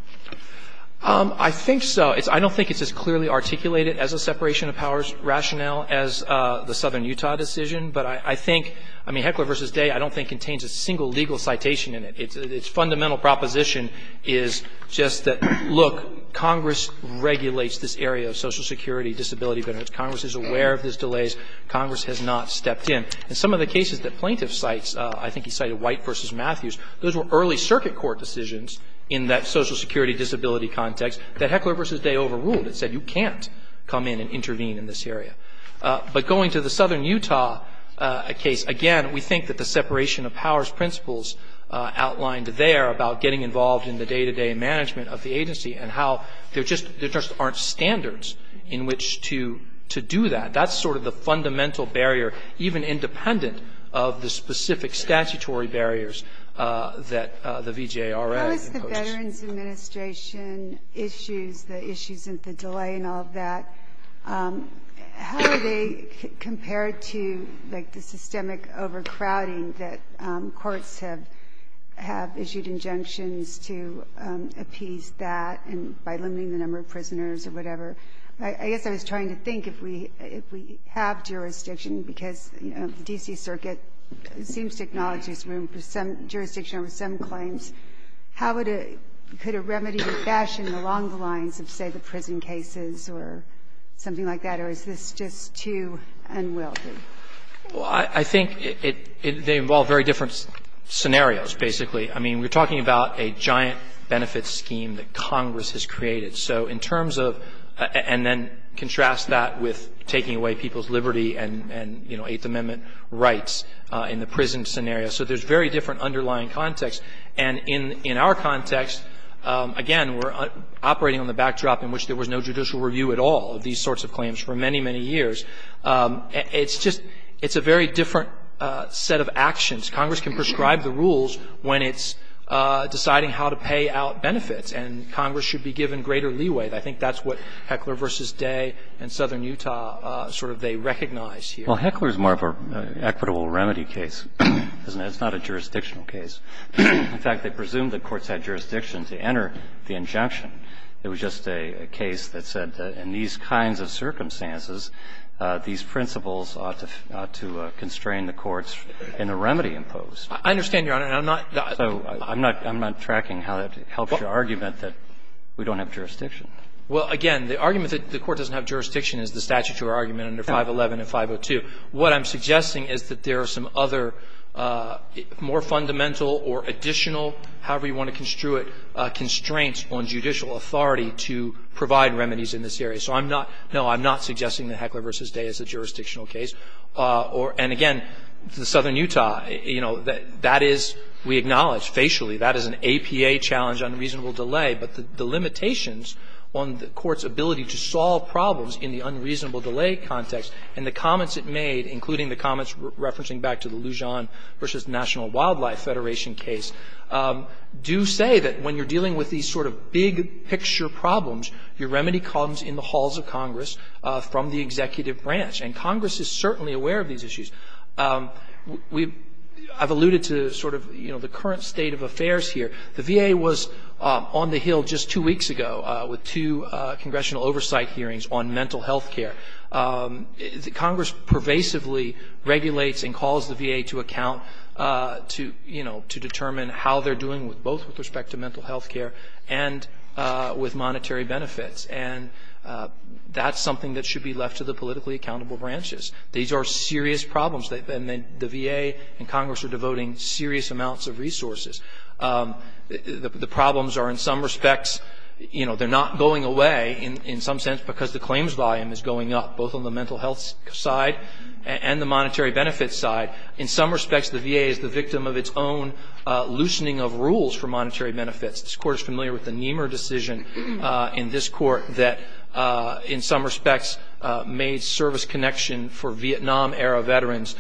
I think so. I don't think it's as clearly articulated as a separation of powers rationale as the southern Utah decision, but I think – I mean, Heckler v. Day I don't think contains a single legal citation in it. Its fundamental proposition is just that, look, Congress regulates this area of social security disability benefits. Congress is aware of these delays. Congress has not stepped in. And some of the cases that plaintiffs cite, I think he cited White v. Matthews, those were early circuit court decisions in that social security disability context that Heckler v. Day overruled. It said you can't come in and intervene in this area. outlined there about getting involved in the day-to-day management of the agency and how there just aren't standards in which to do that. That's sort of the fundamental barrier, even independent of the specific statutory barriers that the VJRA imposed. How is the Veterans Administration issues, the issues of the delay and all of that, how are they compared to, like, the systemic overcrowding that courts have issued injunctions to appease that by limiting the number of prisoners or whatever? I guess I was trying to think if we have jurisdiction, because the D.C. Circuit seems to acknowledge there's room for some jurisdiction over some claims. How could a remedy be fashioned along the lines of, say, the prison cases or something like that, or is this just too unwieldy? Well, I think they involve very different scenarios, basically. I mean, we're talking about a giant benefit scheme that Congress has created. So in terms of — and then contrast that with taking away people's liberty and, you know, Eighth Amendment rights in the prison scenario. So there's very different underlying context. And in our context, again, we're operating on the backdrop in which there was no judicial review at all of these sorts of claims for many, many years. It's just — it's a very different set of actions. Congress can prescribe the rules when it's deciding how to pay out benefits. And Congress should be given greater leeway. I think that's what Heckler v. Day in southern Utah sort of they recognize here. Well, Heckler's more of an equitable remedy case, isn't it? It's not a jurisdictional case. In fact, they presumed that courts had jurisdiction to enter the injunction. There was just a case that said that in these kinds of circumstances, these principles ought to constrain the courts in a remedy imposed. I understand, Your Honor, and I'm not — So I'm not tracking how that helps your argument that we don't have jurisdiction. Well, again, the argument that the Court doesn't have jurisdiction is the statutory argument under 511 and 502. What I'm suggesting is that there are some other more fundamental or additional, however you want to construe it, constraints on judicial authority to provide remedies in this area. So I'm not — no, I'm not suggesting that Heckler v. Day is a jurisdictional case. And, again, southern Utah, you know, that is — we acknowledge, facially that is an APA-challenged unreasonable delay. But the limitations on the Court's ability to solve problems in the unreasonable delay context and the comments it made, including the comments referencing back to the Lujan v. National Wildlife Federation case, do say that when you're dealing with these sort of big-picture problems, your remedy comes in the halls of Congress from the executive branch. And Congress is certainly aware of these issues. We — I've alluded to sort of, you know, the current state of affairs here. The VA was on the Hill just two weeks ago with two congressional oversight hearings on mental health care. Congress pervasively regulates and calls the VA to account to, you know, to determine how they're doing with both with respect to mental health care and with monetary benefits. And that's something that should be left to the politically accountable branches. These are serious problems. The VA and Congress are devoting serious amounts of resources. The problems are, in some respects, you know, they're not going away in some sense because the claims volume is going up, both on the mental health side and the monetary benefits side. In some respects, the VA is the victim of its own loosening of rules for monetary benefits. This Court is familiar with the Niemer decision in this Court that, in some respects, made service connection for Vietnam-era veterans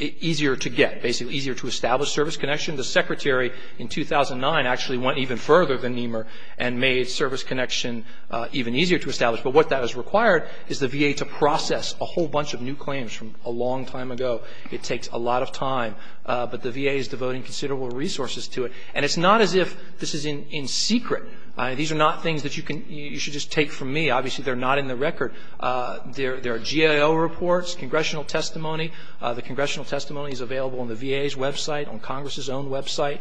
easier to get, basically easier to establish service connection. The Secretary in 2009 actually went even further than Niemer and made service connection even easier to establish. But what that has required is the VA to process a whole bunch of new claims from a long time ago. It takes a lot of time. But the VA is devoting considerable resources to it. And it's not as if this is in secret. These are not things that you can you should just take from me. Obviously, they're not in the record. There are GAO reports, congressional testimony. The congressional testimony is available on the VA's website, on Congress's own website.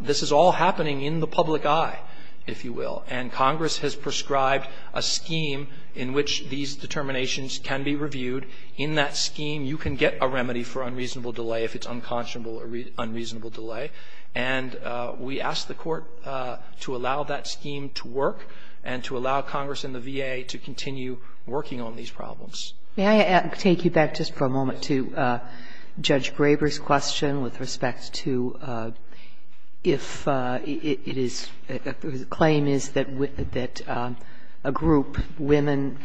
This is all happening in the public eye, if you will. And Congress has prescribed a scheme in which these determinations can be reviewed. In that scheme, you can get a remedy for unreasonable delay if it's unconscionable or unreasonable delay. And we ask the Court to allow that scheme to work and to allow Congress and the VA to continue working on these problems. Sotomayor, may I take you back just for a moment to Judge Graber's question with respect to if it is the claim is that a group, women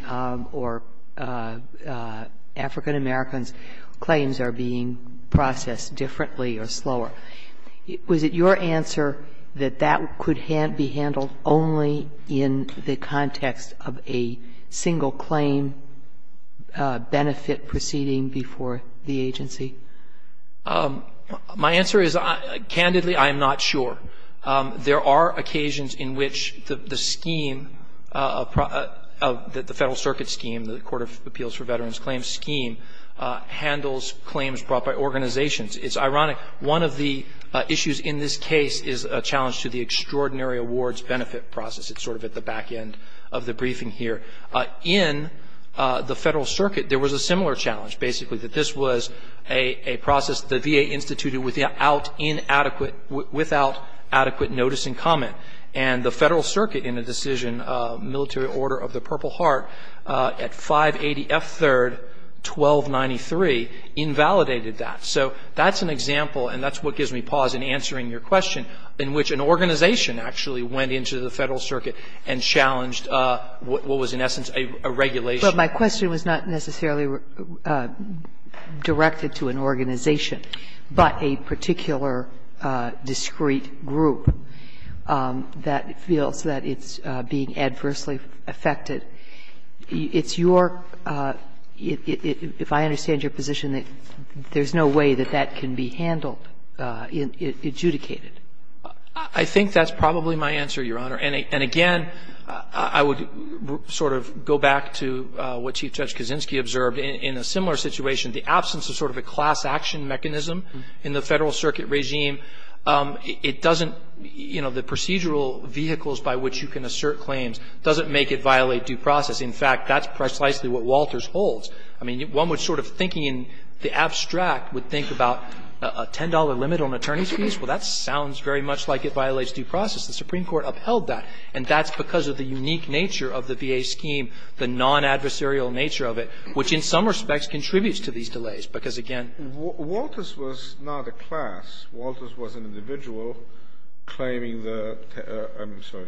or African-Americans, claims are being processed differently or slower. Was it your answer that that could be handled only in the context of a single claim benefit proceeding before the agency? My answer is, candidly, I'm not sure. There are occasions in which the scheme, the Federal Circuit scheme, the Court of Appeals for Veterans Claims scheme, handles claims brought by organizations. It's ironic. One of the issues in this case is a challenge to the extraordinary awards benefit process. It's sort of at the back end of the briefing here. In the Federal Circuit, there was a similar challenge, basically, that this was a process the VA instituted without adequate notice and comment. And the Federal Circuit, in a decision, Military Order of the Purple Heart, at 580 F. 3rd, 1293, invalidated that. So that's an example, and that's what gives me pause in answering your question, in which an organization actually went into the Federal Circuit and challenged what was in essence a regulation. But my question was not necessarily directed to an organization, but a particular discrete group that feels that it's being adversely affected. It's your – if I understand your position, there's no way that that can be handled, adjudicated. I think that's probably my answer, Your Honor. And again, I would sort of go back to what Chief Judge Kaczynski observed. In a similar situation, the absence of sort of a class action mechanism in the Federal Circuit regime, it doesn't – you know, the procedural vehicles by which you can assert claims doesn't make it violate due process. In fact, that's precisely what Walters holds. I mean, one would sort of, thinking in the abstract, would think about a $10 limit on attorney's fees. Well, that sounds very much like it violates due process. The Supreme Court upheld that, and that's because of the unique nature of the VA scheme, the non-adversarial nature of it, which in some respects contributes to these delays, because, again – Kennedy. Walters was not a class. Walters was an individual claiming the – I'm sorry,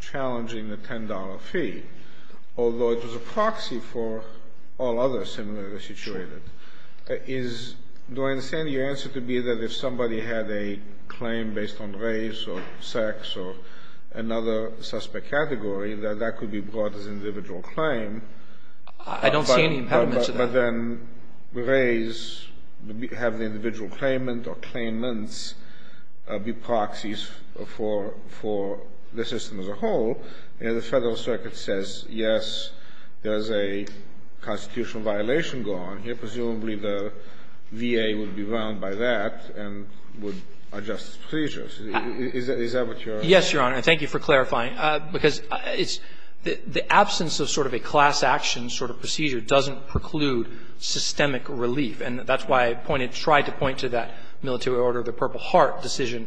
challenging the $10 fee, although it was a proxy for all others similarly situated. Is – do I understand your answer to be that if somebody had a claim based on race or sex or another suspect category, that that could be brought as an individual claim, but – I don't see any impediment to that. But then raise – have the individual claimant or claimants be proxies for the system as a whole, and the Federal Circuit says, yes, there is a constitutional violation going on here. Presumably, the VA would be bound by that and would adjust its procedures. Is that what you're – Yes, Your Honor. And thank you for clarifying, because it's – the absence of sort of a class action sort of procedure doesn't preclude systemic relief. And that's why I pointed – tried to point to that Military Order of the Purple Heart decision.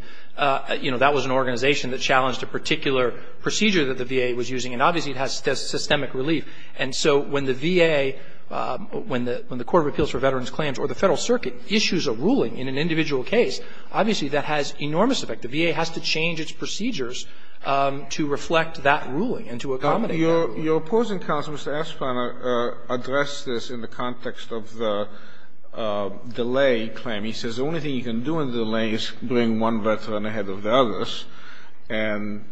You know, that was an organization that challenged a particular procedure that the VA was using, and obviously it has systemic relief. And so when the VA – when the Court of Appeals for Veterans' Claims or the Federal Obviously, that has enormous effect. The VA has to change its procedures to reflect that ruling and to accommodate that ruling. Your opposing counsel, Mr. Esplaner, addressed this in the context of the delay claim. He says the only thing you can do in the delay is bring one veteran ahead of the others, and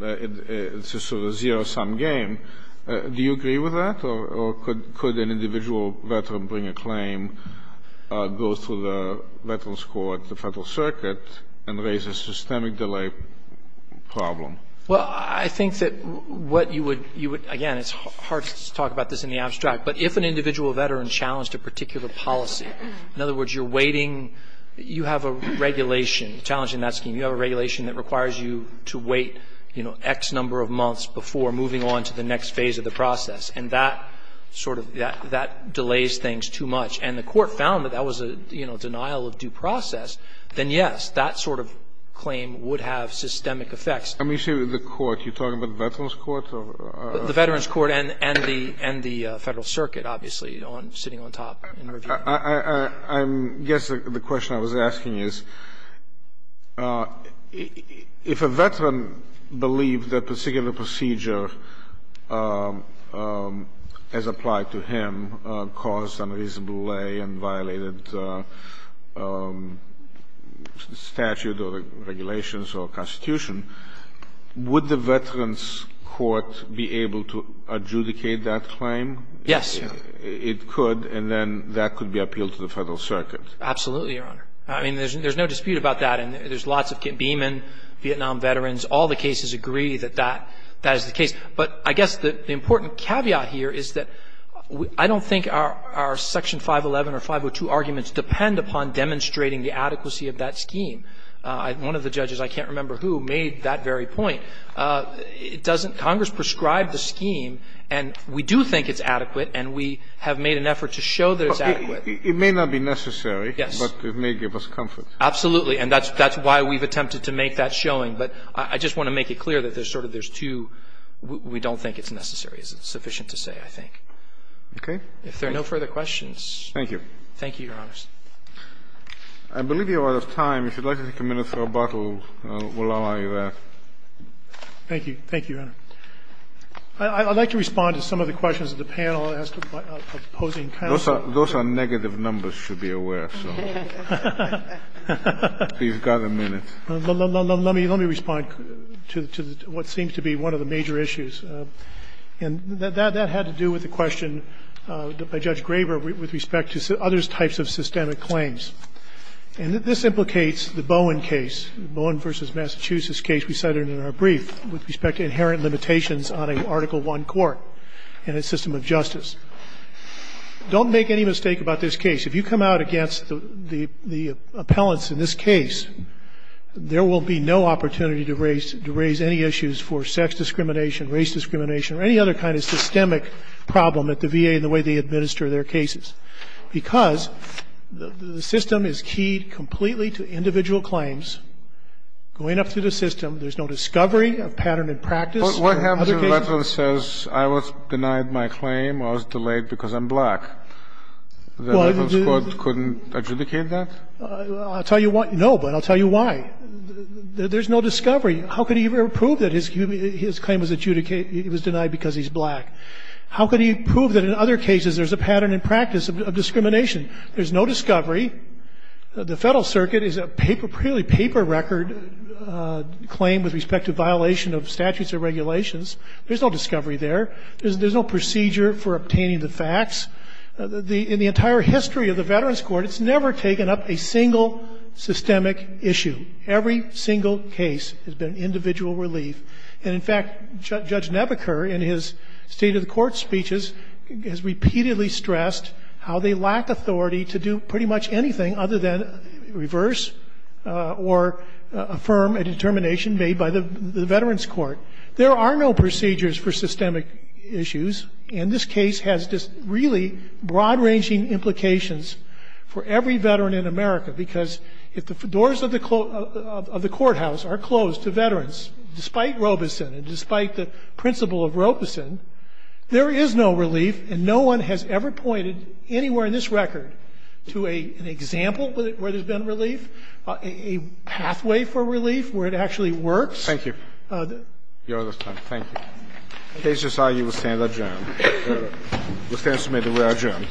it's a sort of zero-sum game. Do you agree with that, or could an individual veteran bring a claim, go through the Veterans' Court, the Federal Circuit, and raise a systemic delay problem? Well, I think that what you would – you would – again, it's hard to talk about this in the abstract, but if an individual veteran challenged a particular policy, in other words, you're waiting – you have a regulation challenging that scheme. You have a regulation that requires you to wait, you know, X number of months before moving on to the next phase of the process. And that sort of – that delays things too much. And the court found that that was a, you know, denial of due process, then, yes, that sort of claim would have systemic effects. Let me say the court. You're talking about the Veterans' Court? The Veterans' Court and the Federal Circuit, obviously, sitting on top in review. I guess the question I was asking is, if a veteran believed that a particular procedure as applied to him caused unreasonable delay and violated statute or regulations or Constitution, would the Veterans' Court be able to adjudicate that claim? Yes, Your Honor. It could, and then that could be appealed to the Federal Circuit. Absolutely, Your Honor. I mean, there's no dispute about that. And there's lots of – Beeman, Vietnam veterans, all the cases agree that that is the case. But I guess the important caveat here is that I don't think our Section 511 or 502 arguments depend upon demonstrating the adequacy of that scheme. One of the judges, I can't remember who, made that very point. It doesn't – Congress prescribed the scheme, and we do think it's adequate, and we have made an effort to show that it's adequate. It may not be necessary. Yes. But it may give us comfort. Absolutely. And that's why we've attempted to make that showing. But I just want to make it clear that there's sort of there's two – we don't think it's necessary. It's sufficient to say, I think. Okay. If there are no further questions. Thank you. Thank you, Your Honor. I believe we are out of time. If you'd like to take a minute for a bottle, we'll allow you that. Thank you. Thank you, Your Honor. Those are negative numbers, you should be aware. So you've got a minute. Let me respond to what seems to be one of the major issues. And that had to do with the question by Judge Graber with respect to other types of systemic claims. And this implicates the Bowen case, the Bowen v. Massachusetts case we cited in our brief with respect to inherent limitations on an Article I court and its system of justice. Don't make any mistake about this case. If you come out against the appellants in this case, there will be no opportunity to raise any issues for sex discrimination, race discrimination, or any other kind of systemic problem at the VA in the way they administer their cases. Because the system is keyed completely to individual claims. Going up through the system, there's no discovery of pattern in practice. What happens if that one says, I was denied my claim, I was delayed because I'm black? The medical squad couldn't adjudicate that? I'll tell you why. No, but I'll tell you why. There's no discovery. How could he prove that his claim was denied because he's black? How could he prove that in other cases there's a pattern in practice of discrimination? There's no discovery. The Federal Circuit is a purely paper record claim with respect to violation of statutes or regulations. There's no discovery there. There's no procedure for obtaining the facts. In the entire history of the Veterans Court, it's never taken up a single systemic issue. Every single case has been individual relief. And, in fact, Judge Nebaker in his State of the Court speeches has repeatedly stressed how they lack authority to do pretty much anything other than reverse or affirm a determination made by the Veterans Court. There are no procedures for systemic issues. And this case has just really broad-ranging implications for every veteran in America, because if the doors of the courthouse are closed to veterans, despite Robeson and despite the principle of Robeson, there is no relief, and no one has ever pointed anywhere in this record to an example where there's been relief, a pathway for relief where it actually works. Thank you. Thank you. The case is signed. You will stand adjourned. You will stand submitted. We are adjourned. All rise. This court for this session stands adjourned.